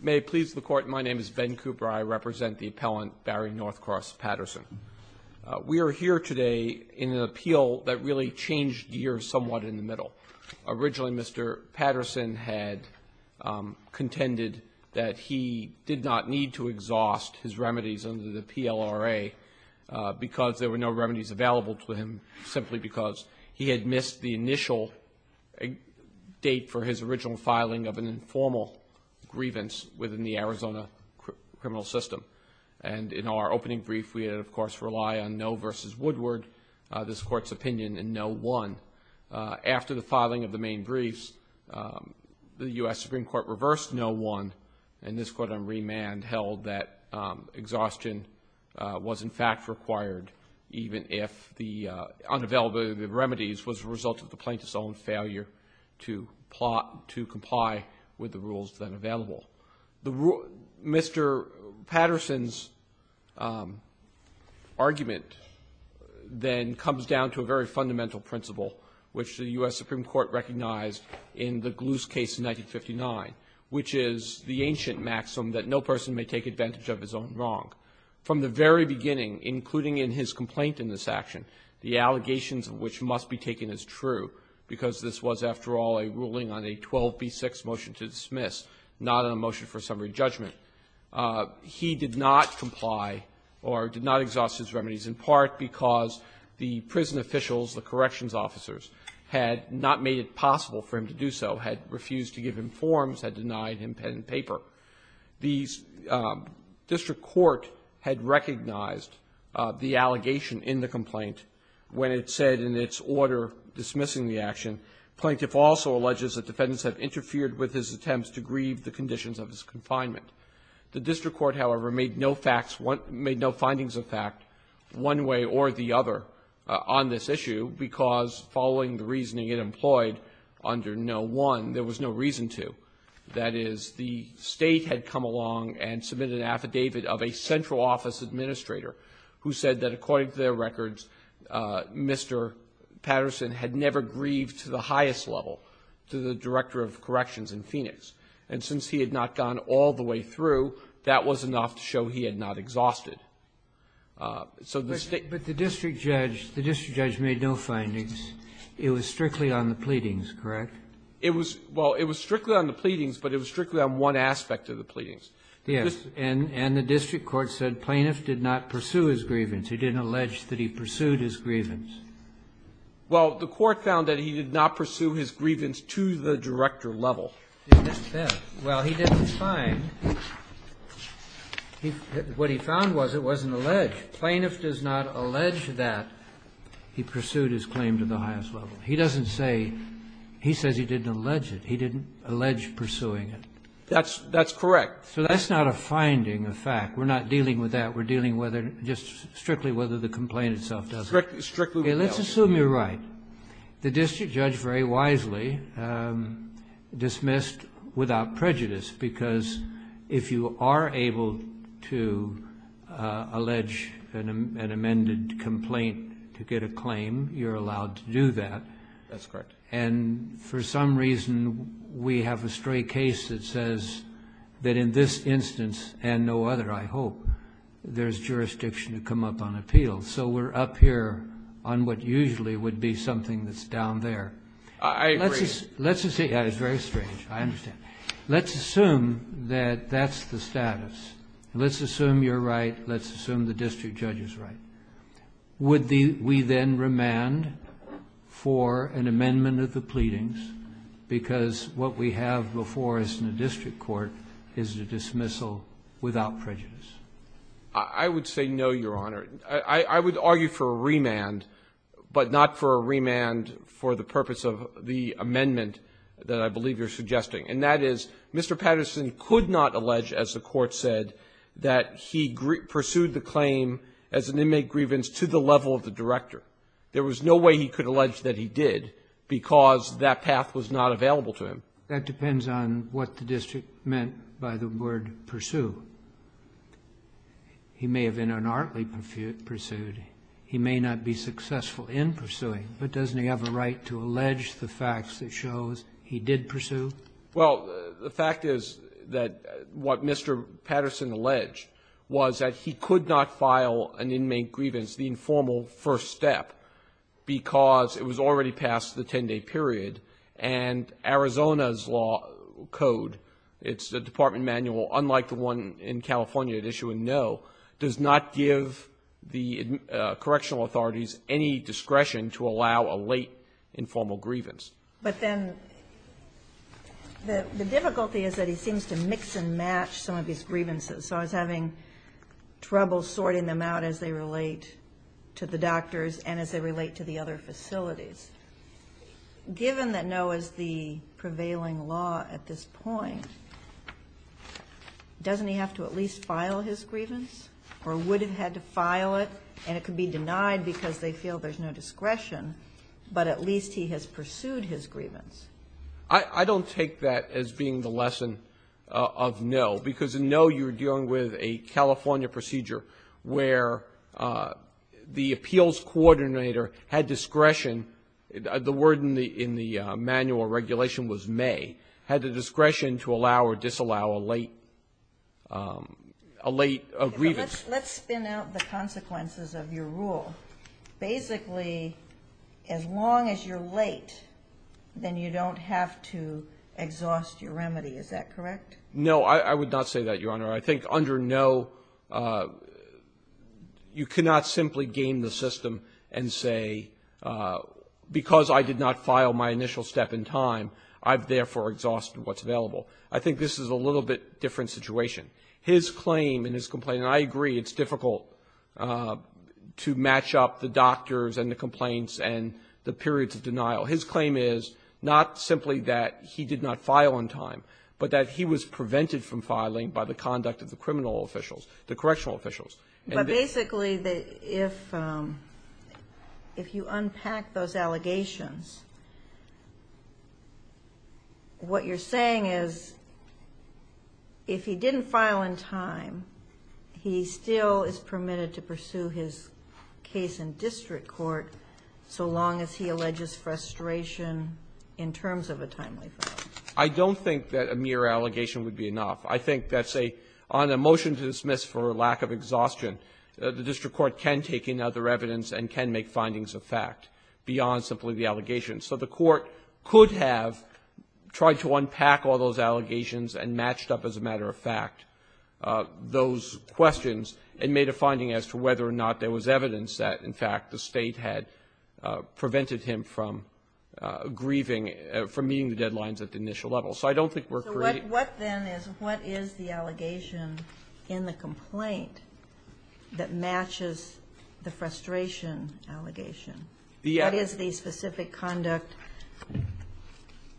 May it please the Court, my name is Ben Cooper. I represent the appellant, Barry Northcross Patterson. We are here today in an appeal that really changed the year somewhat in the middle. Originally, Mr. Patterson had contended that he did not need to exhaust his remedies under the PLRA because there were no remedies available to him, simply because he had missed the initial date for his original filing of an informal grievance within the Arizona criminal system. And in our opening brief, we had, of course, relied on no versus Woodward, this Court's opinion, and no one. After the filing of the main briefs, the U.S. Supreme Court reversed no one, and this Court on remand held that exhaustion was, in fact, required, even if the unavailability of the remedies was a result of the plaintiff's own failure to plot, to comply with the rules that are available. Mr. Patterson's argument then comes down to a very fundamental principle, which the U.S. Supreme Court recognized in the Gluse case in 1959, which is the ancient maxim that no person may take advantage of his own wrong. From the very beginning, including in his complaint in this action, the allegations of which must be taken as true, because this was, after all, a ruling on a 12b6 motion to dismiss, not a motion for summary judgment, he did not comply or did not exhaust his remedies, in part because the prison officials, the corrections officers, had not made it possible for him to do so, had refused to give him forms, had denied him pen and paper. The district court had recognized the allegation in the complaint when it said in its order dismissing the action, plaintiff also alleges that defendants had interfered with his attempts to grieve the conditions of his confinement. The district court, however, made no facts one — made no findings of fact one way or the other on this issue because, following the reasoning it employed under no one, there was no reason to. That is, the State had come along and submitted an affidavit of a central office administrator who said that, according to their records, Mr. Patterson had never grieved to the highest level to the director of corrections in Phoenix. And since he had not gone all the way through, that was enough to show he had not exhausted. So the State — Kennedy. But the district judge — the district judge made no findings. It was strictly on the pleadings, correct? It was — well, it was strictly on the pleadings, but it was strictly on one aspect of the pleadings. Yes. And the district court said plaintiff did not pursue his grievance. He didn't allege that he pursued his grievance. Well, the court found that he did not pursue his grievance to the director level. It didn't say. Well, he didn't find. What he found was it wasn't alleged. Plaintiff does not allege that he pursued his claim to the highest level. He doesn't say — he says he didn't allege it. He didn't allege pursuing it. That's correct. So that's not a finding, a fact. We're not dealing with that. We're dealing whether — just strictly whether the complaint itself does it. Strictly whether. Let's assume you're right. The district judge very wisely dismissed without prejudice, because if you are able to allege an amended complaint to get a claim, you're allowed to do that. That's correct. And for some reason, we have a stray case that says that in this instance and no other, I hope, there's jurisdiction to come up on appeal. So we're up here on what usually would be something that's down there. I agree. Let's just say — that is very strange. I understand. Let's assume that that's the status. Let's assume you're right. Let's assume the district judge is right. Would we then remand for an amendment of the pleadings, because what we have before us in the district court is a dismissal without prejudice? I would say no, Your Honor. I would argue for a remand, but not for a remand for the purpose of the amendment that I believe you're suggesting. And that is, Mr. Patterson could not allege, as the Court said, that he pursued the claim as an inmate grievance to the level of the director. There was no way he could allege that he did, because that path was not available to him. That depends on what the district meant by the word pursue. He may have in an artly pursuit. He may not be successful in pursuing, but doesn't he have a right to allege the facts that shows he did pursue? Well, the fact is that what Mr. Patterson alleged was that he could not file an inmate grievance, the informal first step, because it was already past the 10-day period. And Arizona's law code, it's the Department Manual, unlike the one in California that issue a no, does not give the correctional authorities any discretion to allow a late informal grievance. But then the difficulty is that he seems to mix and match some of these grievances. So I was having trouble sorting them out as they relate to the doctors and as they relate to the other facilities. Given that no is the prevailing law at this point, doesn't he have to at least file his grievance or would have had to file it? And it could be denied because they feel there's no discretion, but at least he has to file his grievance. I don't take that as being the lesson of no, because in no, you're dealing with a California procedure where the appeals coordinator had discretion. The word in the manual regulation was may, had the discretion to allow or disallow a late grievance. Let's spin out the consequences of your rule. Basically, as long as you're late, then you don't have to exhaust your remedy. Is that correct? No, I would not say that, Your Honor. I think under no, you cannot simply game the system and say because I did not file my initial step in time, I've therefore exhausted what's available. I think this is a little bit different situation. His claim and his complaint, and I agree it's difficult to match up the doctors and the complaints and the periods of denial. His claim is not simply that he did not file on time, but that he was prevented from filing by the conduct of the criminal officials, the correctional officials. But basically, if you unpack those allegations, what you're saying is if he didn't file in time, he still is permitted to pursue his case in district court so long as he alleges frustration in terms of a timely file. I don't think that a mere allegation would be enough. I think that's a — on a motion to dismiss for lack of exhaustion, the district court can take in other evidence and can make findings of fact beyond simply the allegation. So the court could have tried to unpack all those allegations and matched up as a matter of fact those questions and made a finding as to whether or not there was evidence that, in fact, the State had prevented him from grieving, from meeting the deadlines at the initial level. So I don't think we're creating — So what then is — what is the allegation in the complaint that matches the frustration allegation? The — What is the specific conduct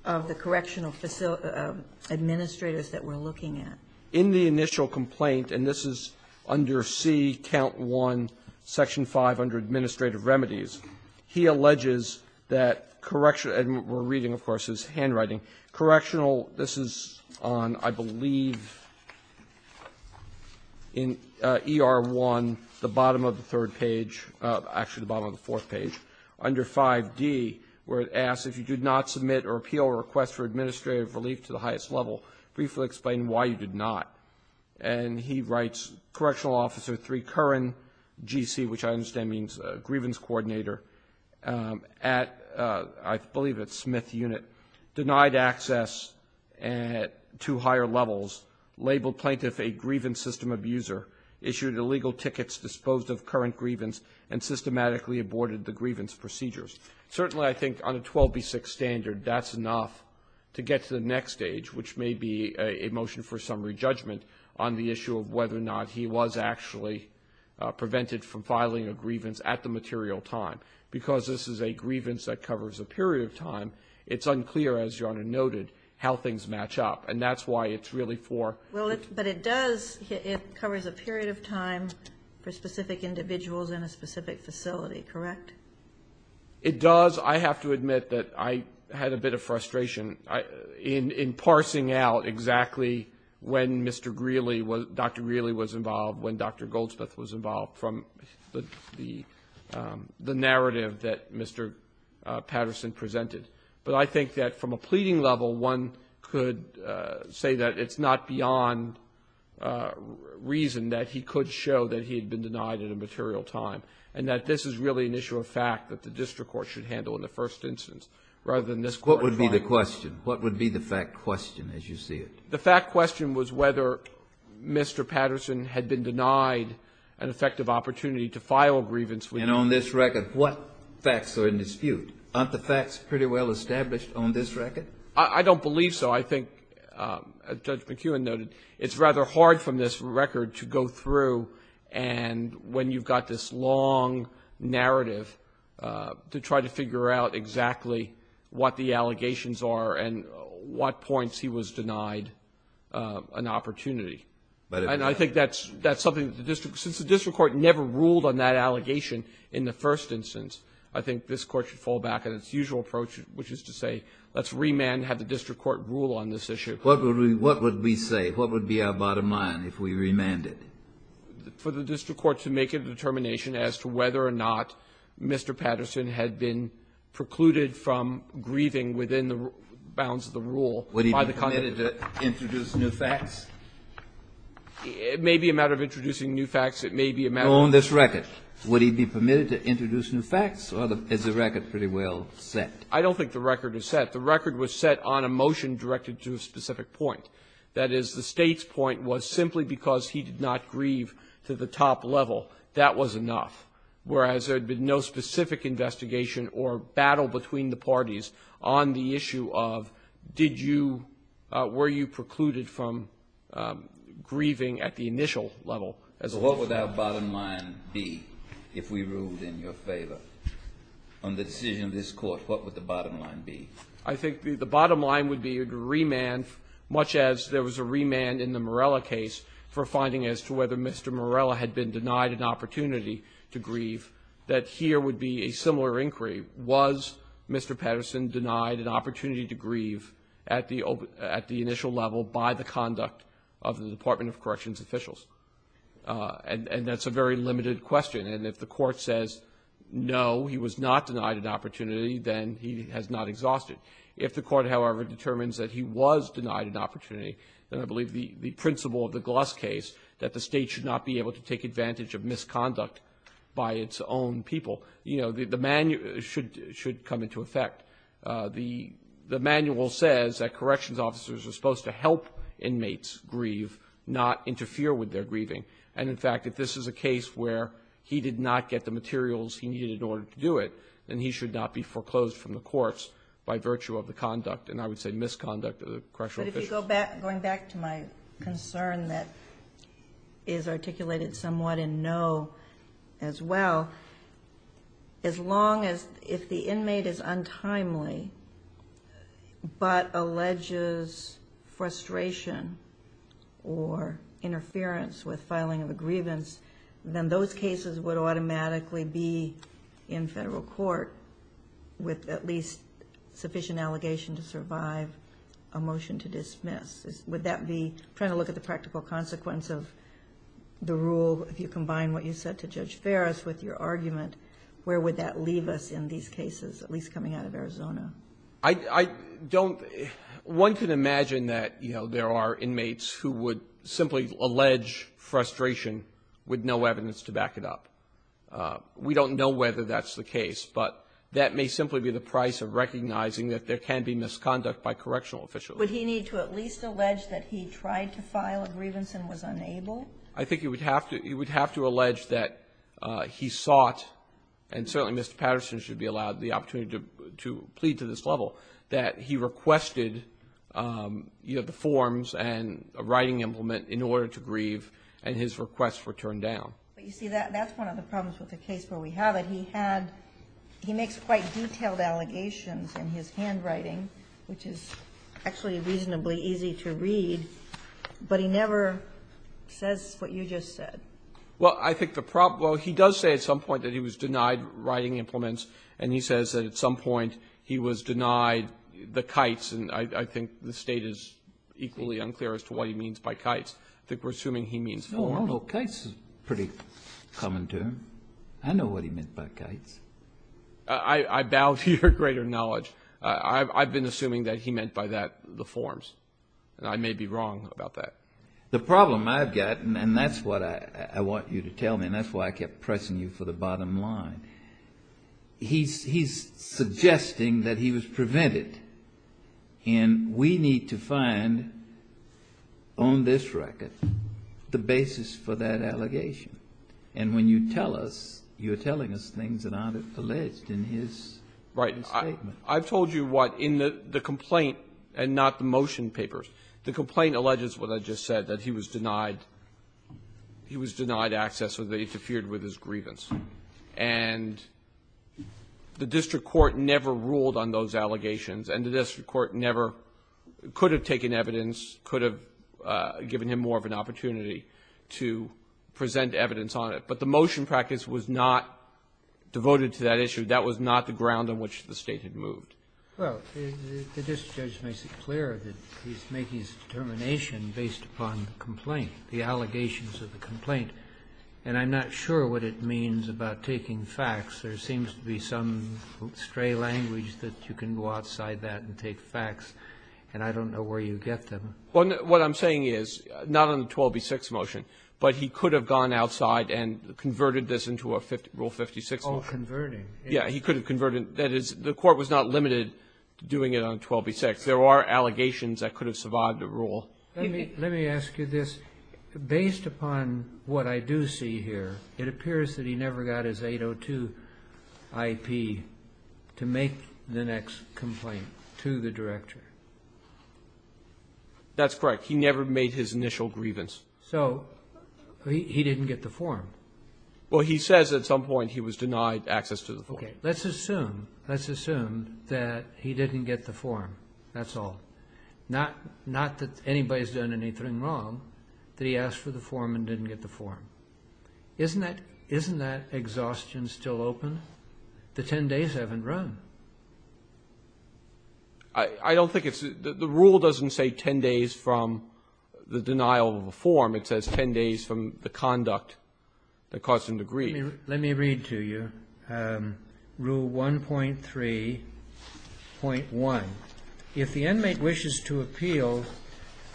of the correctional administrators that we're looking at? In the initial complaint, and this is under C, count 1, section 5, under Administrative Remedies, he alleges that correctional — and we're reading, of course, his handwriting — correctional — this is on, I believe, in ER1, the bottom of the third page — actually, the bottom of the fourth page — under 5D, where it asks, if you did not submit or appeal a request for administrative relief to the highest level, briefly explain why you did not. And he writes, Correctional Officer 3 Curran, G.C., which I understand means grievance coordinator, at — I believe it's Smith Unit, denied access at two higher levels, labeled plaintiff a grievance system abuser, issued illegal tickets disposed of current grievance, and systematically aborted the grievance procedures. Certainly, I think, on a 12B6 standard, that's enough to get to the next stage, which may be a motion for summary judgment on the issue of whether or not he was actually prevented from filing a grievance at the material time. Because this is a grievance that covers a period of time, it's unclear, as Your Honor noted, how things match up. And that's why it's really for — Well, it — but it does — it covers a period of time for specific individuals in a specific facility, correct? It does. I have to admit that I had a bit of frustration. I — in parsing out exactly when Mr. Greeley was — Dr. Greeley was involved, when Dr. Goldsmith was involved, from the narrative that Mr. Patterson presented. But I think that from a pleading level, one could say that it's not beyond reason that he could show that he had been denied at a material time, and that this is really an issue of fact that the district court should handle in the first instance, rather than this court trial. What would be the question? What would be the fact question, as you see it? The fact question was whether Mr. Patterson had been denied an effective opportunity to file a grievance with him. And on this record, what facts are in dispute? Aren't the facts pretty well established on this record? I don't believe so. I think, as Judge McKeown noted, it's rather hard from this record to go through and when you've got this long narrative to try to figure out exactly what the allegations are and what points he was denied an opportunity. But if — And I think that's — that's something that the district — since the district court never ruled on that allegation in the first instance, I think this court should fall back on its usual approach, which is to say, let's remand, have the district court rule on this issue. What would we — what would we say? What would be our bottom line if we remanded? For the district court to make a determination as to whether or not Mr. Patterson had been precluded from grieving within the bounds of the rule by the — Would he be permitted to introduce new facts? It may be a matter of introducing new facts. It may be a matter of — On this record, would he be permitted to introduce new facts? Or is the record pretty well set? I don't think the record is set. The record was set on a motion directed to a specific point. That is, the State's point was simply because he did not grieve to the top level, that was enough, whereas there had been no specific investigation or battle between the parties on the issue of, did you — were you precluded from grieving at the initial level as a — What would our bottom line be if we ruled in your favor on the decision of this court? What would the bottom line be? I think the bottom line would be a remand, much as there was a remand in the Morella case for finding as to whether Mr. Morella had been denied an opportunity to grieve, that here would be a similar inquiry. Was Mr. Patterson denied an opportunity to grieve at the — at the initial level by the conduct of the Department of Corrections officials? And that's a very limited question. And if the court says, no, he was not denied an opportunity, then he has not exhausted. If the court, however, determines that he was denied an opportunity, then I believe the — the principle of the Glusk case, that the State should not be able to take advantage of misconduct by its own people, you know, the manual — should — should come into effect. The — the manual says that corrections officers are supposed to help inmates grieve, not interfere with their grieving. And, in fact, if this is a case where he did not get the materials he needed in order to do it, then he should not be foreclosed from the courts by virtue of the conduct and, I would say, misconduct of the correctional officials. But if you go back — going back to my concern that is articulated somewhat in no as well, as long as — if the inmate is untimely but alleges frustration or interference with filing of a grievance, then those cases would automatically be in federal court with at least sufficient allegation to survive a motion to dismiss. Would that be — trying to look at the practical consequence of the rule, if you combine what you said to Judge Ferris with your argument, where would that leave us in I — I don't — one could imagine that, you know, there are inmates who would simply allege frustration with no evidence to back it up. We don't know whether that's the case, but that may simply be the price of recognizing that there can be misconduct by correctional officials. Would he need to at least allege that he tried to file a grievance and was unable? I think he would have to — he would have to allege that he sought — and certainly Mr. Patterson should be allowed the opportunity to plead to this level — that he requested, you know, the forms and a writing implement in order to grieve and his requests were turned down. But you see, that's one of the problems with the case where we have it. He had — he makes quite detailed allegations in his handwriting, which is actually reasonably easy to read, but he never says what you just said. Well, I think the problem — well, he does say at some point that he was denied writing implements, and he says that at some point he was denied the kites, and I think the State is equally unclear as to what he means by kites. I think we're assuming he means forms. No, no, kites is a pretty common term. I know what he meant by kites. I — I bow to your greater knowledge. I've been assuming that he meant by that the forms, and I may be wrong about that. The problem I've got, and that's what I want you to tell me, and that's why I kept pressing you for the bottom line, he's — he's suggesting that he was prevented, and we need to find on this record the basis for that allegation. And when you tell us, you're telling us things that aren't alleged in his statement. Right. I've told you what, in the complaint and not the motion papers, the complaint alleges what I just said, that he was denied — he was denied access or that he interfered with his grievance. And the district court never ruled on those allegations, and the district court never — could have taken evidence, could have given him more of an opportunity to present evidence on it. But the motion practice was not devoted to that issue. That was not the ground on which the State had moved. Well, the district judge makes it clear that he's making his determination based upon the complaint, the allegations of the complaint. And I'm not sure what it means about taking facts. There seems to be some stray language that you can go outside that and take facts, and I don't know where you get them. Well, what I'm saying is, not on the 12B6 motion, but he could have gone outside and converted this into a Rule 56 motion. Oh, converting. Yeah. He could have converted. That is, the court was not limited to doing it on 12B6. There are allegations that could have survived a rule. Let me ask you this. Based upon what I do see here, it appears that he never got his 802 IP to make the next complaint to the director. That's correct. He never made his initial grievance. So he didn't get the form? Well, he says at some point he was denied access to the form. Let's assume, let's assume that he didn't get the form. That's all. Not that anybody's done anything wrong, that he asked for the form and didn't get the form. Isn't that exhaustion still open? The 10 days haven't run. I don't think it's. The rule doesn't say 10 days from the denial of the form. It says 10 days from the conduct that caused him to grieve. Let me read to you rule 1.3.1. If the inmate wishes to appeal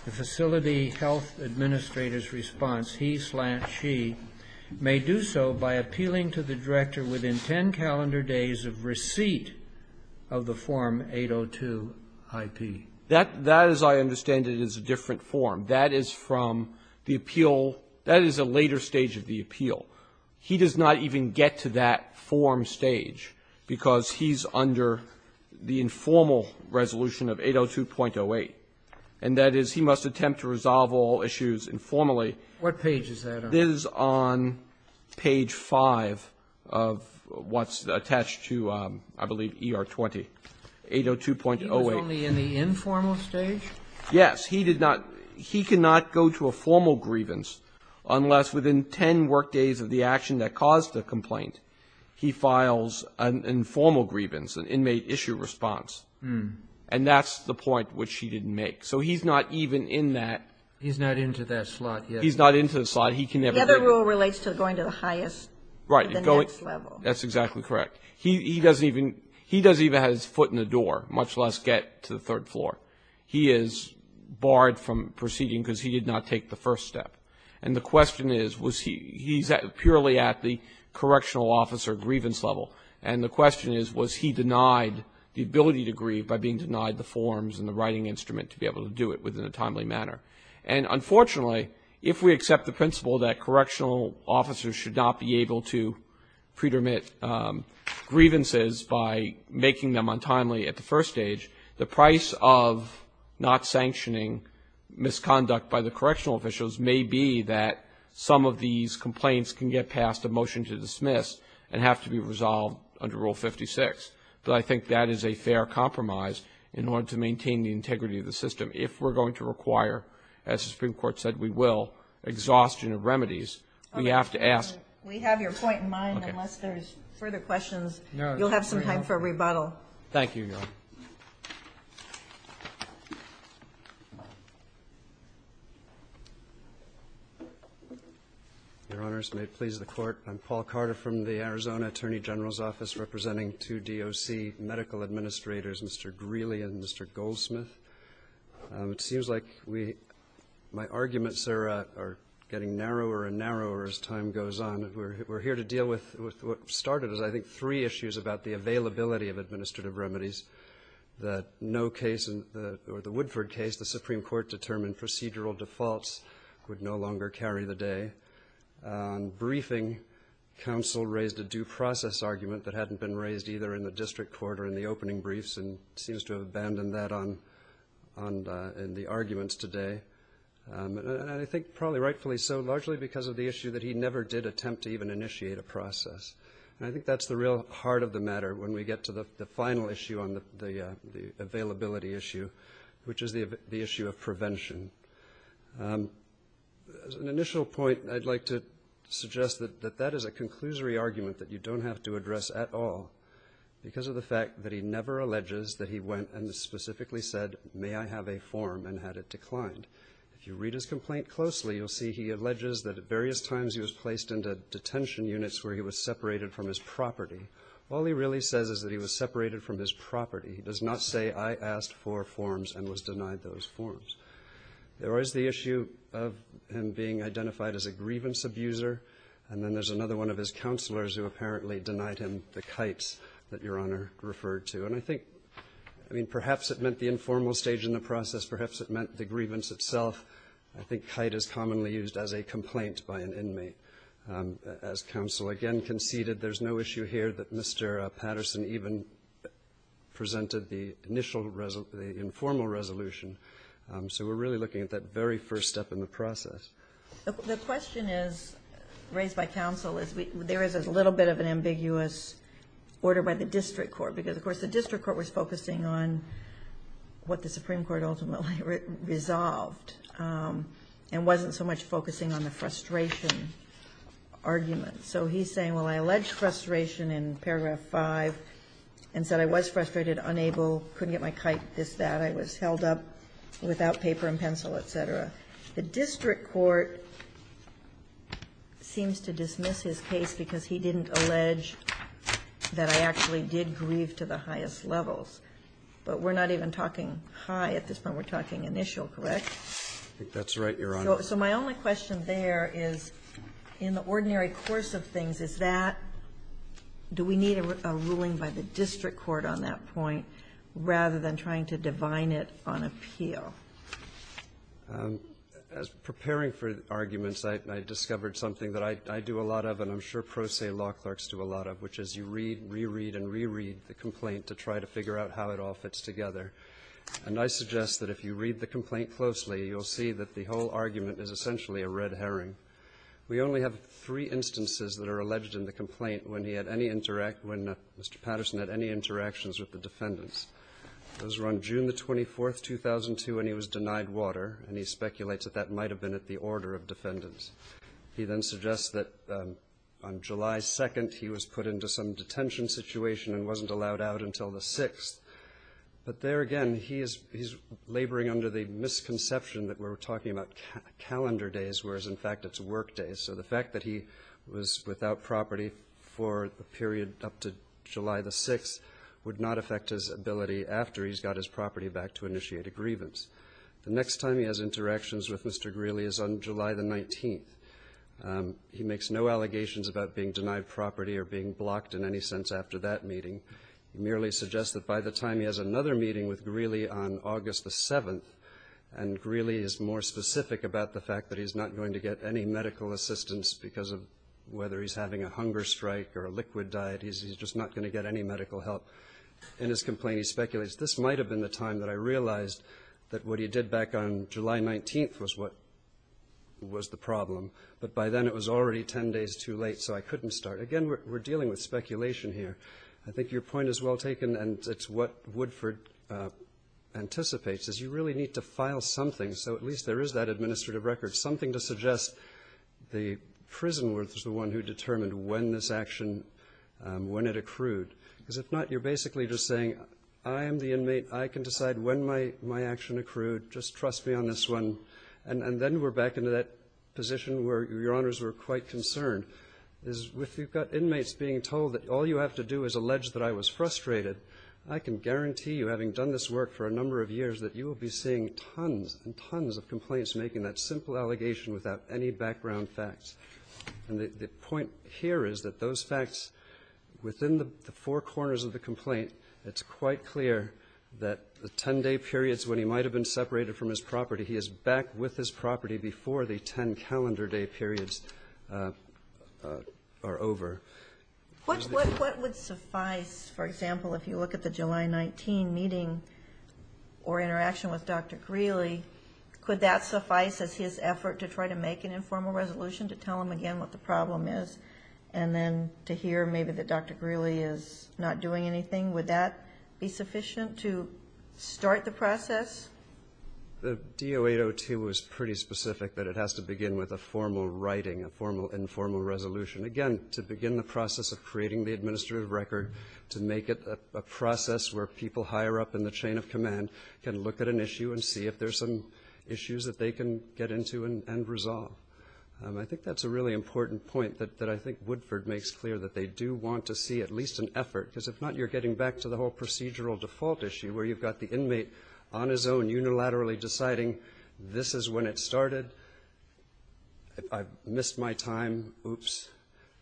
the facility health administrator's response, he slant she may do so by appealing to the director within 10 calendar days of receipt of the form 802 IP. That, as I understand it, is a different form. That is from the appeal. That is a later stage of the appeal. He does not even get to that form stage because he's under the informal resolution of 802.08. And that is he must attempt to resolve all issues informally. What page is that on? It is on page 5 of what's attached to, I believe, ER 20, 802.08. He was only in the informal stage? Yes, he did not. He cannot go to a formal grievance unless within 10 work days of the action that caused the complaint, he files an informal grievance, an inmate issue response. And that's the point which he didn't make. So he's not even in that. He's not into that slot yet. He's not into the slot. He can never. The other rule relates to going to the highest level. That's exactly correct. He doesn't even, he doesn't even have his foot in the door, much less get to the third floor. He is barred from proceeding because he did not take the first step. And the question is, was he, he's purely at the correctional officer grievance level. And the question is, was he denied the ability to grieve by being denied the forms and the writing instrument to be able to do it within a timely manner? And unfortunately, if we accept the principle that correctional officers should not be able to pre-dermit grievances by making them untimely at the first stage, the price of not sanctioning misconduct by the correctional officials may be that some of these complaints can get past a motion to dismiss and have to be resolved under Rule 56. But I think that is a fair compromise in order to maintain the integrity of the system. If we're going to require, as the Supreme Court said we will, exhaustion of remedies, we have to ask. We have your point in mind. Unless there's further questions, you'll have some time for a rebuttal. Thank you, Your Honor. Your Honors, may it please the Court. I'm Paul Carter from the Arizona Attorney General's Office representing two DOC medical administrators, Mr. Greeley and Mr. Goldsmith. It seems like my arguments are getting narrower and narrower as time goes on. We're here to deal with what started as, I think, three issues about the availability of administrative remedies that no case or the Woodford case, the Supreme Court determined procedural defaults would no longer carry the day. On briefing, counsel raised a due process argument that hadn't been raised either in in the arguments today, and I think probably rightfully so, largely because of the issue that he never did attempt to even initiate a process. And I think that's the real heart of the matter when we get to the final issue on the availability issue, which is the issue of prevention. As an initial point, I'd like to suggest that that is a conclusory argument that you don't have to address at all because of the fact that he never alleges that he went and specifically said, may I have a form, and had it declined. If you read his complaint closely, you'll see he alleges that at various times he was placed into detention units where he was separated from his property. All he really says is that he was separated from his property. He does not say, I asked for forms and was denied those forms. There is the issue of him being identified as a grievance abuser, and then there's another one of his counselors who apparently denied him the kites that Your Honor referred to. And I think, I mean, perhaps it meant the informal stage in the process, perhaps it meant the grievance itself. I think kite is commonly used as a complaint by an inmate. As counsel again conceded, there's no issue here that Mr. Patterson even presented the initial, the informal resolution. So we're really looking at that very first step in the process. MS. GOTTLIEB The question is, raised by counsel, is there is a little bit of an ambiguous order by the district court? Because, of course, the district court was focusing on what the Supreme Court ultimately resolved and wasn't so much focusing on the frustration argument. So he's saying, well, I alleged frustration in paragraph 5 and said I was frustrated, unable, couldn't get my kite, this, that. I was held up without paper and pencil, et cetera. The district court seems to dismiss his case because he didn't allege that I actually did grieve to the highest levels. But we're not even talking high at this point. We're talking initial, correct? MR. PATTERSON That's right, Your Honor. MS. GOTTLIEB So my only question there is, in the ordinary course of things, is that, do we need a ruling by the district court on that point rather than trying to divine it on appeal? MR. GOTTLIEB As preparing for arguments, I discovered something that I do a lot of and I'm sure pro se law clerks do a lot of, which is you read, reread, and reread the complaint to try to figure out how it all fits together. And I suggest that if you read the complaint closely, you'll see that the whole argument is essentially a red herring. We only have three instances that are alleged in the complaint when he had any interact when Mr. Patterson had any interactions with the defendants. Those were on June the 24th, 2002, when he was denied water, and he speculates that that might have been at the order of defendants. He then suggests that on July 2nd, he was put into some detention situation and wasn't allowed out until the 6th. But there again, he is laboring under the misconception that we're talking about calendar days, whereas, in fact, it's work days. So the fact that he was without property for the period up to July the 6th would not affect his ability after he's got his property back to initiate a grievance. The next time he has interactions with Mr. Greely is on July the 19th. He makes no allegations about being denied property or being blocked in any sense after that meeting. He merely suggests that by the time he has another meeting with Greely on August the 7th, and Greely is more specific about the fact that he's not going to get any medical assistance because of whether he's having a hunger strike or a liquid diet, he's just not going to get any medical help. In his complaint, he speculates, this might have been the time that I realized that what he did back on July 19th was what was the problem. But by then, it was already 10 days too late, so I couldn't start. Again, we're dealing with speculation here. I think your point is well taken, and it's what Woodford anticipates, is you really need to file something so at least there is that administrative record, something to suggest the prison was the one who determined when this action, when it accrued. Because if not, you're basically just saying, I am the inmate. I can decide when my action accrued. Just trust me on this one. And then we're back into that position where your honors were quite concerned, is if you've got inmates being told that all you have to do is allege that I was frustrated, I can guarantee you, having done this work for a number of years, that you will be seeing tons and tons of complaints making that simple allegation without any background facts. And the point here is that those facts, within the four corners of the complaint, it's quite clear that the 10-day periods when he might have been separated from his property, he is back with his property before the 10 calendar day periods are over. What would suffice, for example, if you look at the July 19 meeting or interaction with the DO-802, tell them again what the problem is, and then to hear maybe that Dr. Greeley is not doing anything, would that be sufficient to start the process? The DO-802 was pretty specific that it has to begin with a formal writing, a formal, informal resolution. Again, to begin the process of creating the administrative record, to make it a process where people higher up in the chain of command can look at an issue and see if there's some issues that they can get into and resolve. I think that's a really important point that I think Woodford makes clear, that they do want to see at least an effort, because if not, you're getting back to the whole procedural default issue where you've got the inmate on his own unilaterally deciding, this is when it started, I've missed my time, oops,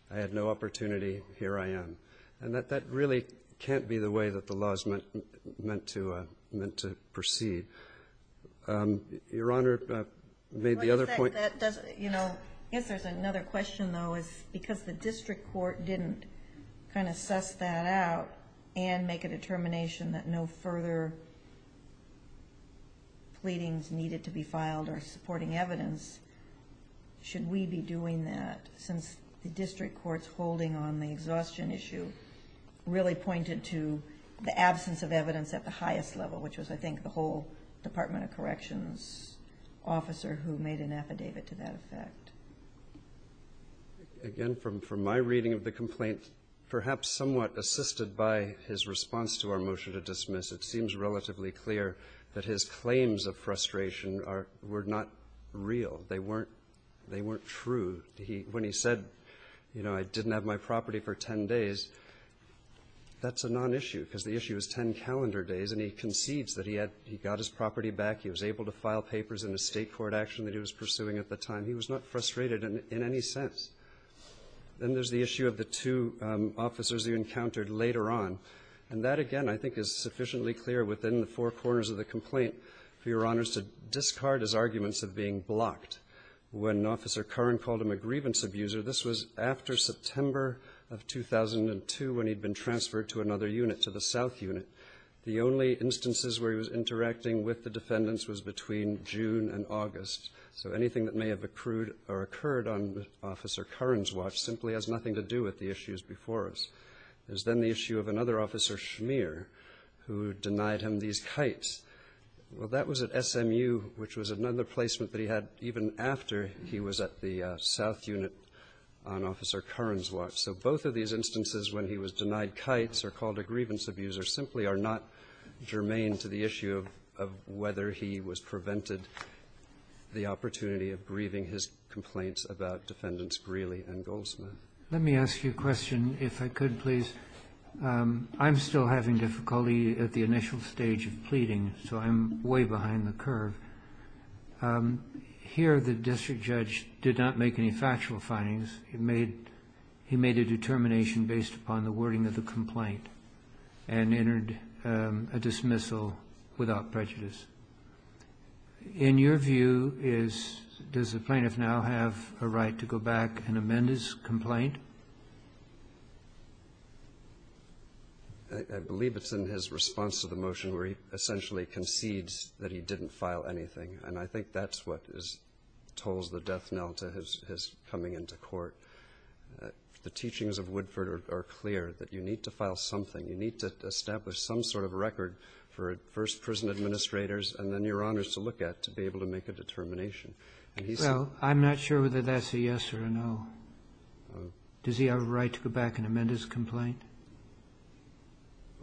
I had no opportunity, here I am. And that really can't be the way that the law is meant to proceed. Your Honor, maybe the other point- One thing that doesn't, you know, I guess there's another question though, is because the district court didn't kind of suss that out and make a determination that no further pleadings needed to be filed are supporting evidence, should we be doing that since the district court's holding on the exhaustion issue really pointed to the absence of evidence at the highest level, which was I think the whole Department of Corrections officer who made an affidavit to that effect. Again, from my reading of the complaint, perhaps somewhat assisted by his response to our motion to dismiss, it seems relatively clear that his claims of frustration were not real. They weren't true. When he said, you know, I didn't have my property for 10 days, that's a non-issue, because the issue is 10 calendar days, and he concedes that he had, he got his property back, he was able to file papers in a state court action that he was pursuing at the time. He was not frustrated in any sense. Then there's the issue of the two officers he encountered later on, and that again I think is sufficiently clear within the four corners of the complaint for Your Honors to discard his arguments of being blocked. When Officer Curran called him a grievance abuser, this was after September of 2002 when he'd been transferred to another unit, to the South Unit. The only instances where he was interacting with the defendants was between June and August, so anything that may have accrued or occurred on Officer Curran's watch simply has nothing to do with the issues before us. There's then the issue of another officer, Schmeer, who denied him these kites. Well, that was at SMU, which was another placement that he had even after he was at the South Unit on Officer Curran's watch. So both of these instances when he was denied kites or called a grievance abuser simply are not germane to the issue of whether he was prevented the opportunity of grieving his complaints about Defendants Greeley and Goldsmith. Let me ask you a question, if I could, please. I'm still having difficulty at the initial stage of pleading, so I'm way behind the curve. Here the district judge did not make any factual findings. He made a determination based upon the wording of the complaint and entered a dismissal without prejudice. In your view, does the plaintiff now have a right to go back and amend his complaint? I believe it's in his response to the motion where he essentially concedes that he didn't file anything. I think that's what tolls the death knell to his coming into court. The teachings of Woodford are clear that you need to file something. You need to establish some sort of record for first prison administrators and then your honors to look at to be able to make a determination. I'm not sure whether that's a yes or a no. Does he have a right to go back and amend his complaint?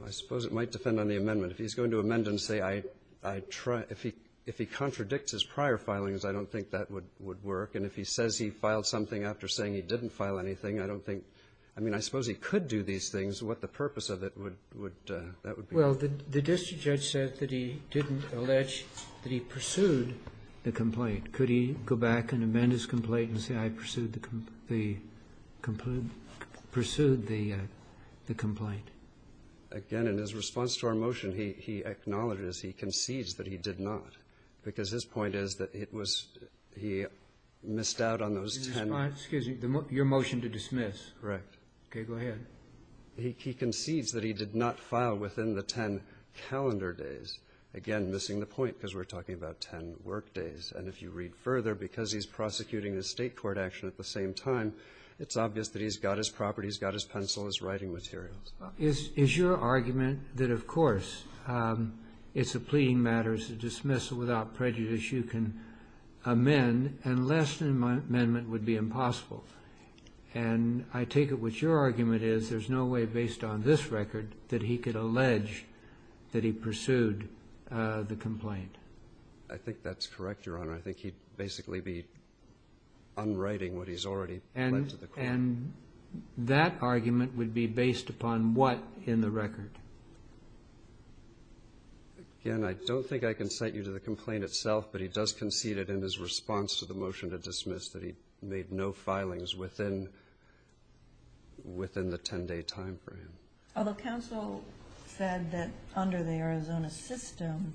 I suppose it might depend on the amendment. If he's going to amend and say, if he contradicts his prior filings, I don't think that would work. And if he says he filed something after saying he didn't file anything, I don't think, I mean, I suppose he could do these things. What the purpose of it would, that would be. Well, the district judge said that he didn't allege that he pursued the complaint. Could he go back and amend his complaint and say I pursued the complaint? Again, in his response to our motion, he acknowledges, he concedes that he did not. Because his point is that it was, he missed out on those 10. Excuse me, your motion to dismiss. Correct. Okay, go ahead. He concedes that he did not file within the 10 calendar days. Again, missing the point because we're talking about 10 work days. And if you read further, because he's prosecuting the state court action at the same time, it's obvious that he's got his property, he's got his pencil, his writing materials. Is your argument that, of course, it's a pleading matter, it's a dismissal without prejudice, you can amend, and less than an amendment would be impossible? And I take it what your argument is, there's no way based on this record that he could allege that he pursued the complaint. I think that's correct, Your Honor. I think he'd basically be unwriting what he's already led to the court. And that argument would be based upon what in the record? Again, I don't think I can cite you to the complaint itself, but he does concede it in his response to the motion to dismiss that he made no filings within the 10-day time frame. Although counsel said that under the Arizona system,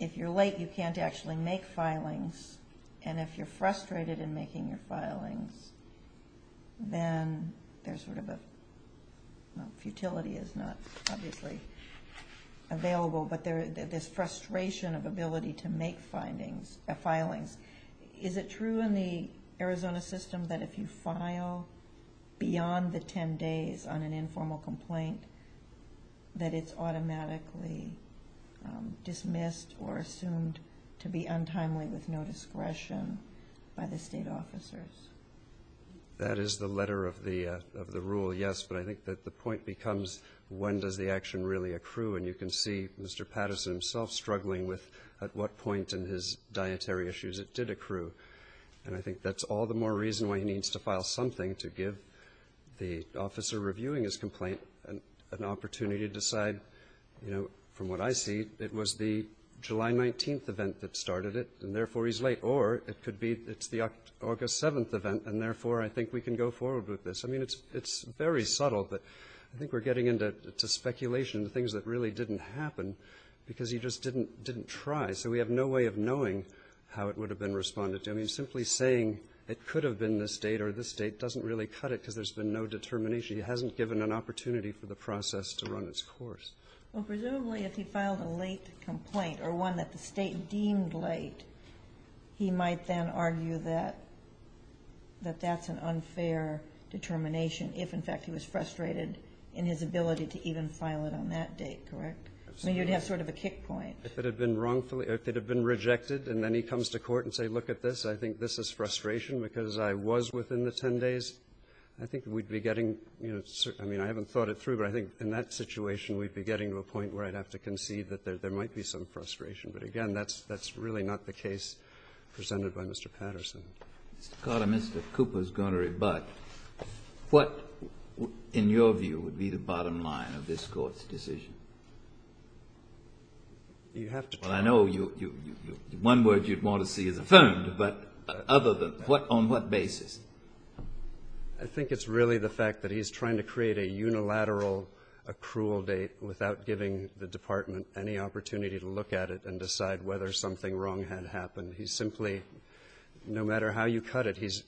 if you're late, you can't actually make filings. And if you're frustrated in making your filings, then there's sort of a, well, futility is not obviously available, but there's frustration of ability to make findings, filings. Is it true in the Arizona system that if you file beyond the 10 days on an informal discretion by the state officers? That is the letter of the rule, yes. But I think that the point becomes, when does the action really accrue? And you can see Mr. Patterson himself struggling with at what point in his dietary issues it did accrue. And I think that's all the more reason why he needs to file something to give the officer reviewing his complaint an opportunity to decide, from what I see, it was the July 19th event that started it. And therefore, he's late. Or it could be it's the August 7th event, and therefore, I think we can go forward with this. I mean, it's very subtle, but I think we're getting into speculation, things that really didn't happen, because he just didn't try. So we have no way of knowing how it would have been responded to. I mean, simply saying it could have been this date or this date doesn't really cut it, because there's been no determination. He hasn't given an opportunity for the process to run its course. Well, presumably, if he filed a late complaint or one that the State deemed late, he might then argue that that's an unfair determination if, in fact, he was frustrated in his ability to even file it on that date, correct? I mean, you'd have sort of a kick point. If it had been wrongfully or if it had been rejected, and then he comes to court and says, look at this, I think this is frustration because I was within the 10 days, I think we'd be getting, you know, I mean, I haven't thought it through, but I think in that situation, we'd be getting to a point where I'd have to concede that there might be some frustration. But again, that's really not the case presented by Mr. Patterson. Mr. Carter, Mr. Cooper is going to rebut. What, in your view, would be the bottom line of this Court's decision? You have to tell me. Well, I know one word you'd want to see is affirmed, but other than what, on what basis? I think it's really the fact that he's trying to create a unilateral accrual date without giving the Department any opportunity to look at it and decide whether something wrong had happened. He's simply, no matter how you cut it, he's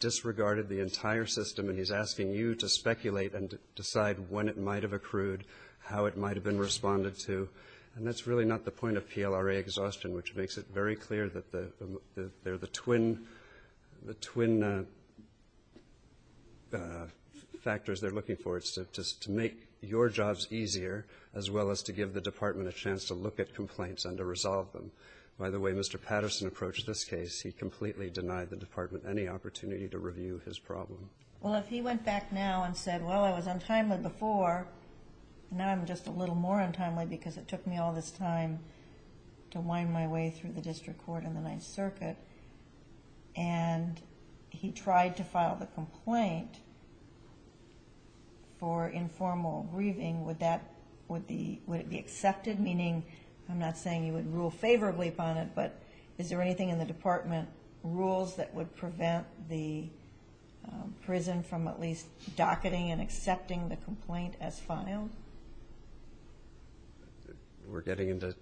disregarded the entire system, and he's asking you to speculate and decide when it might have accrued, how it might have been responded to. And that's really not the point of PLRA exhaustion, which makes it very clear that they're the twin factors they're looking for. It's to make your jobs easier, as well as to give the Department a chance to look at complaints and to resolve them. By the way, Mr. Patterson approached this case, he completely denied the Department any opportunity to review his problem. Well, if he went back now and said, well, I was untimely before, now I'm just a little more untimely because it took me all this time to wind my way through the District Court and the Ninth Circuit, and he tried to file the complaint for informal grieving, would that, would it be accepted? Meaning, I'm not saying you would rule favorably upon it, but is there anything in the Department rules that would prevent the prison from at least docketing and accepting the complaint as filed? We're getting into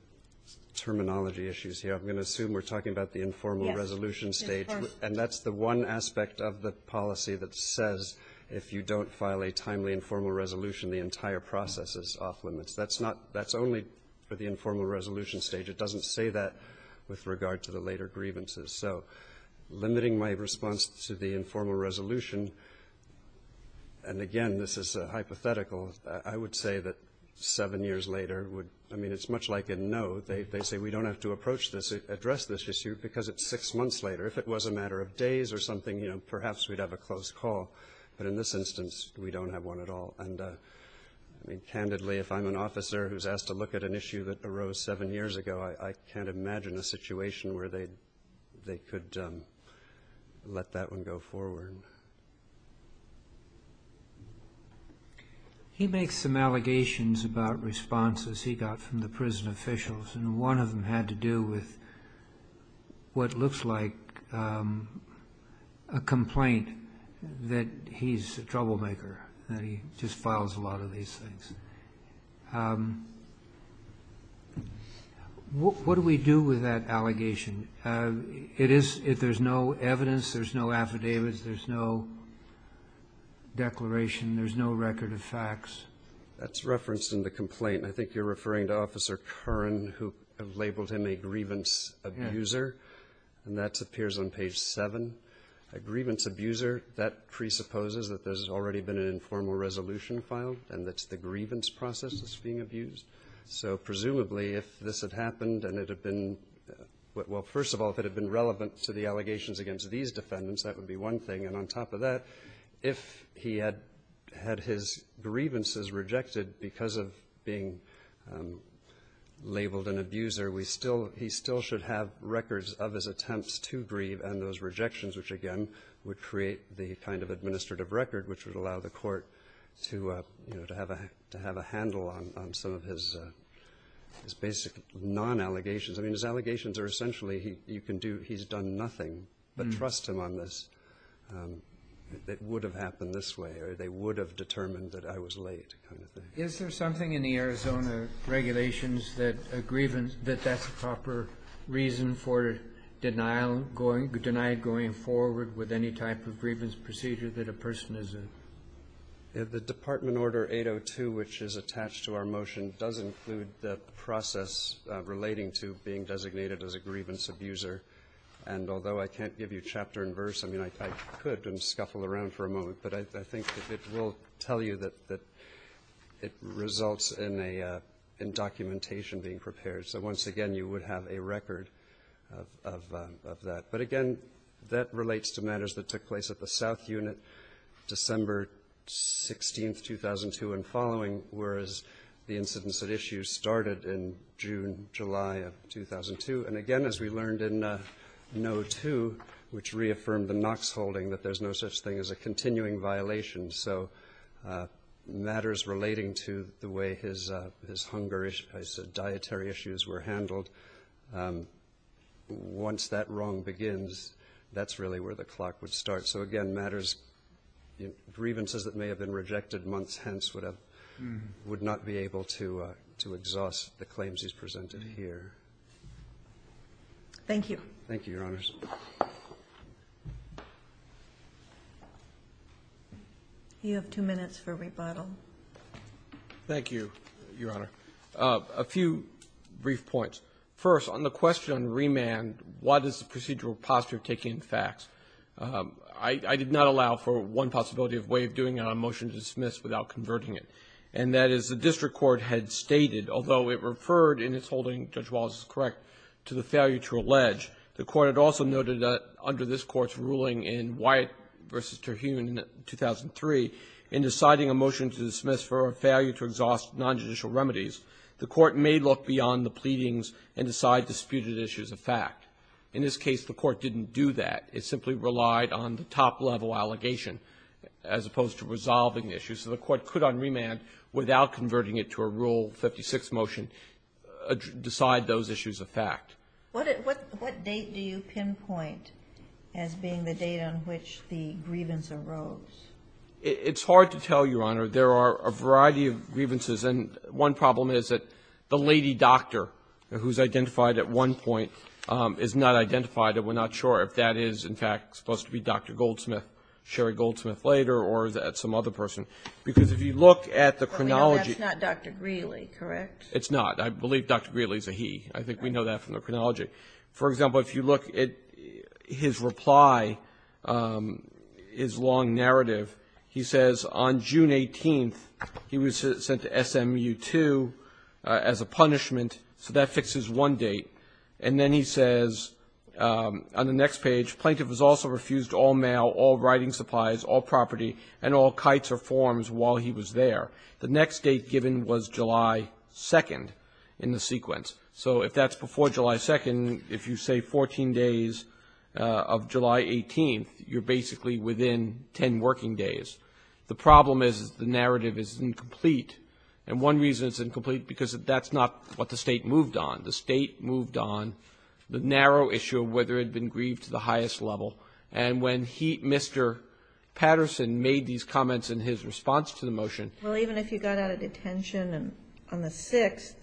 terminology issues here. I'm going to assume we're talking about the informal resolution stage. And that's the one aspect of the policy that says if you don't file a timely informal resolution, the entire process is off limits. That's not, that's only for the informal resolution stage. It doesn't say that with regard to the later grievances. So limiting my response to the informal resolution, and again, this is a hypothetical, I would say that seven years later would, I mean, it's much like a no, they say we don't have to approach this, address this issue because it's six months later. If it was a matter of days or something, you know, perhaps we'd have a close call. But in this instance, we don't have one at all. And I mean, candidly, if I'm an officer who's asked to look at an issue that arose seven years ago, I can't imagine a situation where they could let that one go forward. He makes some allegations about responses he got from the prison officials, and one of them had to do with what looks like a complaint that he's a troublemaker, that he just files a lot of these things. What do we do with that allegation? It is, if there's no evidence, there's no affidavits, there's no declaration, there's no record of facts. That's referenced in the complaint. I think you're referring to Officer Curran, who labeled him a grievance abuser. And that appears on page seven. A grievance abuser, that presupposes that there's already been an informal resolution filed, and that's the grievance process that's being abused. So presumably, if this had happened and it had been, well, first of all, if it had been relevant to the allegations against these defendants, that would be one thing. On top of that, if he had had his grievances rejected because of being labeled an abuser, he still should have records of his attempts to grieve and those rejections, which again, would create the kind of administrative record which would allow the court to have a handle on some of his basic non-allegations. I mean, his allegations are essentially, he's done nothing, but trust him on this. It would have happened this way, or they would have determined that I was late, kind of thing. Kennedy. Is there something in the Arizona regulations that a grievance, that that's a proper reason for denial going, denied going forward with any type of grievance procedure that a person is a? Roberts. The Department Order 802, which is attached to our motion, does include the process relating to being designated as a grievance abuser. And although I can't give you chapter and verse, I mean, I could and scuffle around for a moment, but I think it will tell you that it results in a in documentation being prepared. So once again, you would have a record of that. But again, that relates to matters that took place at the South Unit December 16th, 2002 and following, whereas the incidents at issue started in June, July of 2002. And again, as we learned in no to which reaffirmed the Knox holding that there's no such thing as a continuing violation. So matters relating to the way his his hunger, his dietary issues were handled. Once that wrong begins, that's really where the clock would start. So again, matters grievances that may have been rejected months hence would have would not be able to to exhaust the claims he's presented here. Thank you. Thank you, Your Honors. You have two minutes for rebuttal. Thank you, Your Honor. A few brief points. First, on the question on remand, what is the procedural posture of taking facts? I did not allow for one possibility of way of doing it on a motion to dismiss without converting it. And that is the district court had stated, although it referred in its holding, Judge Wallace is correct, to the failure to allege. The court had also noted that under this Court's ruling in Wyatt v. Terhune in 2003, in deciding a motion to dismiss for a failure to exhaust nonjudicial remedies, the court may look beyond the pleadings and decide disputed issues of fact. In this case, the court didn't do that. It simply relied on the top-level allegation as opposed to resolving issues. So the court could, on remand, without converting it to a Rule 56 motion, decide those issues of fact. What date do you pinpoint as being the date on which the grievance arose? It's hard to tell, Your Honor. There are a variety of grievances. And one problem is that the lady doctor, who's identified at one point, is not identified. And we're not sure if that is, in fact, supposed to be Dr. Goldsmith, Sherry Goldsmith later, or that's some other person. Because if you look at the chronology of the case, it's not, I believe, Dr. Greeley is a he. I think we know that from the chronology. For example, if you look at his reply, his long narrative, he says on June 18th, he was sent to SMU-2 as a punishment, so that fixes one date. And then he says on the next page, plaintiff has also refused all mail, all writing supplies, all property, and all kites or forms while he was there. The next date given was July 2nd in the sequence. So if that's before July 2nd, if you say 14 days of July 18th, you're basically within 10 working days. The problem is the narrative is incomplete. And one reason it's incomplete, because that's not what the State moved on. The State moved on the narrow issue of whether it had been grieved to the highest level. And when he, Mr. Patterson, made these comments in his response to the motion. Well, even if you got out of detention on the 6th,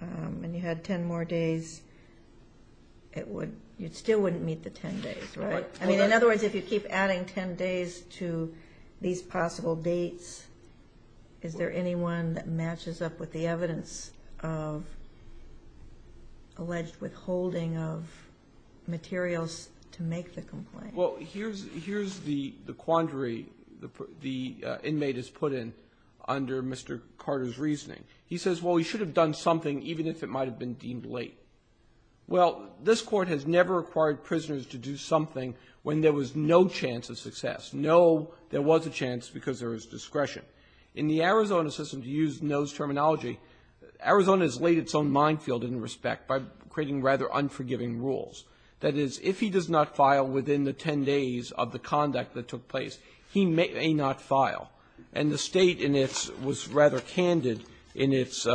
and you had 10 more days, you still wouldn't meet the 10 days, right? I mean, in other words, if you keep adding 10 days to these possible dates, is there anyone that matches up with the evidence of alleged withholding of materials to make the complaint? Well, here's the quandary the inmate has put in under Mr. Carter's reasoning. He says, well, we should have done something, even if it might have been deemed late. Well, this Court has never required prisoners to do something when there was no chance of success. No, there was a chance because there was discretion. In the Arizona system, to use no's terminology, Arizona has laid its own minefield in respect by creating rather unforgiving rules. That is, if he does not file within the 10 days of the conduct that took place, he may not file. And the State in its was rather candid in its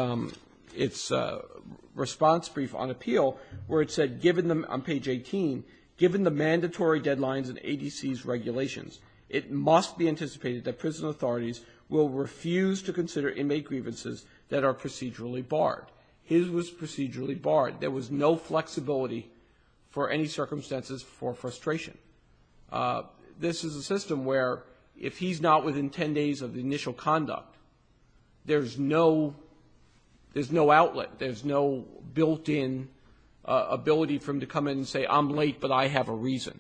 response brief on appeal, where it said on page 18, given the mandatory deadlines and ADC's regulations, it must be anticipated that prison authorities will refuse to consider inmate grievances that are procedurally barred. His was procedurally barred. There was no flexibility for any circumstances for frustration. This is a system where if he's not within 10 days of the initial conduct, there's no outlet, there's no built-in ability for him to come in and say, I'm late, but I have a reason.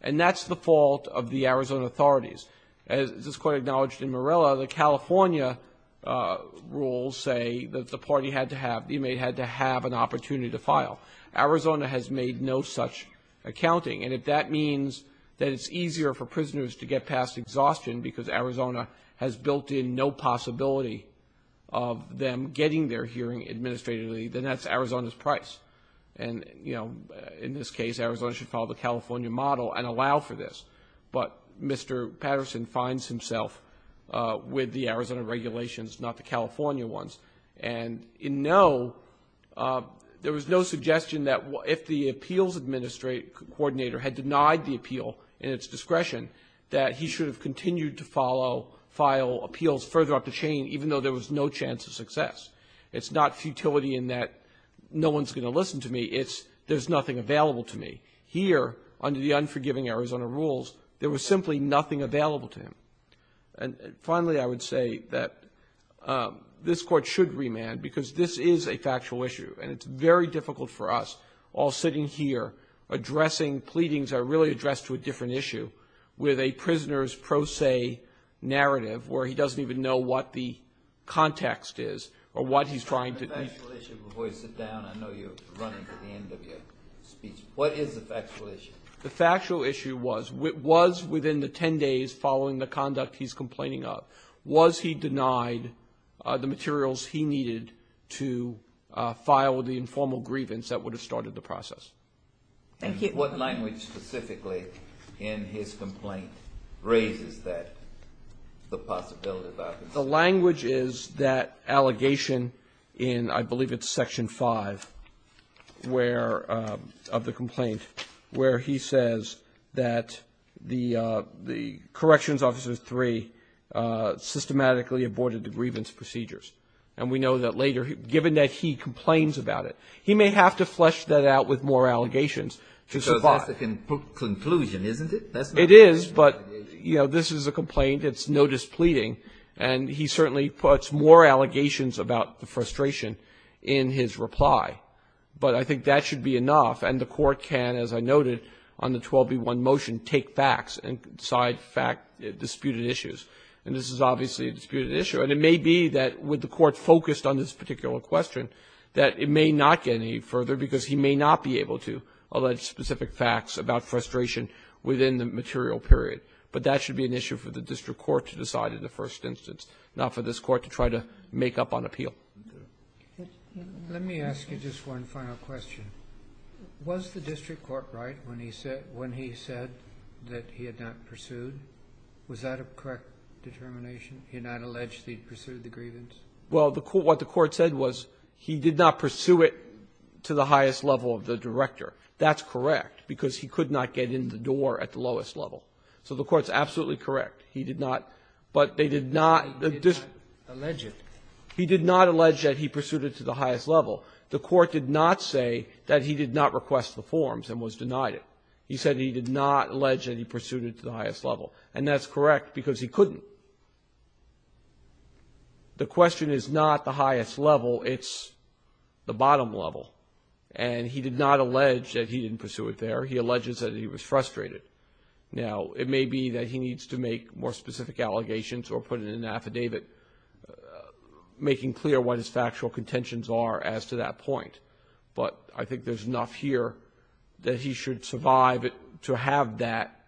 And that's the fault of the Arizona authorities. As this Court acknowledged in Morella, the California rules say that the party had to have, the inmate had to have an opportunity to file. Arizona has made no such accounting, and if that means that it's easier for prisoners to get past exhaustion because Arizona has built in no possibility of them getting their hearing administratively, then that's Arizona's price. And, you know, in this case, Arizona should follow the California model and allow for this. But Mr. Patterson finds himself with the Arizona regulations, not the California ones. And in no, there was no suggestion that if the appeals administrator had denied the appeal in its discretion, that he should have continued to follow, file appeals further up the chain, even though there was no chance of success. It's not futility in that no one's going to listen to me. It's there's nothing available to me. Here, under the unforgiving Arizona rules, there was simply nothing available to him. And finally, I would say that this Court should remand because this is a factual issue, and it's very difficult for us, all sitting here, addressing pleadings that are really addressed to a different issue, with a prisoner's pro se narrative where he doesn't even know what the context is, or what he's trying to. The factual issue, before you sit down, I know you're running to the end of your speech, what is the factual issue? The factual issue was, was within the 10 days following the conduct he's complaining of, was he denied the materials he needed to file the informal grievance that would have started the process? Thank you. What language specifically in his complaint raises that, the possibility of that? The language is that allegation in, I believe it's Section 5, where, of the complaint, where he says that the, the corrections officer 3 systematically aborted the grievance procedures. And we know that later, given that he complains about it, he may have to flesh that out with more allegations to survive. Because that's the conclusion, isn't it? That's not the issue. It is, but, you know, this is a complaint, it's no displeading, and he certainly puts more allegations about the frustration in his reply. But I think that should be enough, and the Court can, as I noted on the 12b1 motion, take backs and side fact disputed issues. And this is obviously a disputed issue, and it may be that, with the Court focused on this particular question, that it may not get any further, because he may not be able to allege specific facts about frustration within the material period. But that should be an issue for the district court to decide in the first instance, not for this Court to try to make up on appeal. Let me ask you just one final question. Was the district court right when he said, when he said that he had not pursued? Was that a correct determination? He had not alleged he had pursued the grievance? Well, the Court what the Court said was he did not pursue it to the highest level of the director. That's correct, because he could not get in the door at the lowest level. So the Court's absolutely correct. He did not. But they did not allege it. He did not allege that he pursued it to the highest level. The Court did not say that he did not request the forms and was denied it. He said he did not allege that he pursued it to the highest level. And that's correct, because he couldn't. The question is not the highest level. It's the bottom level. And he did not allege that he didn't pursue it there. He alleges that he was frustrated. Now, it may be that he needs to make more specific allegations or put it in an affidavit, making clear what his factual contentions are as to that point. But I think there's enough here that he should survive it to have that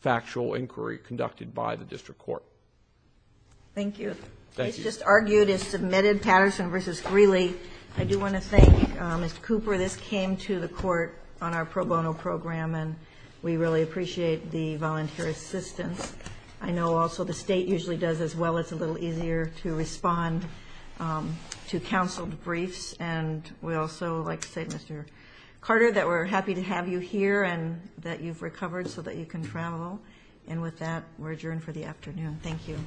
factual inquiry conducted by the district court. Thank you. The case just argued is submitted, Patterson v. Greeley. I do want to thank Mr. Cooper. This came to the Court on our pro bono program. And we really appreciate the volunteer assistance. I know also the state usually does as well. It's a little easier to respond to counseled briefs. And we'd also like to say to Mr. Carter that we're happy to have you here and that you've recovered so that you can travel. And with that, we're adjourned for the afternoon. Thank you.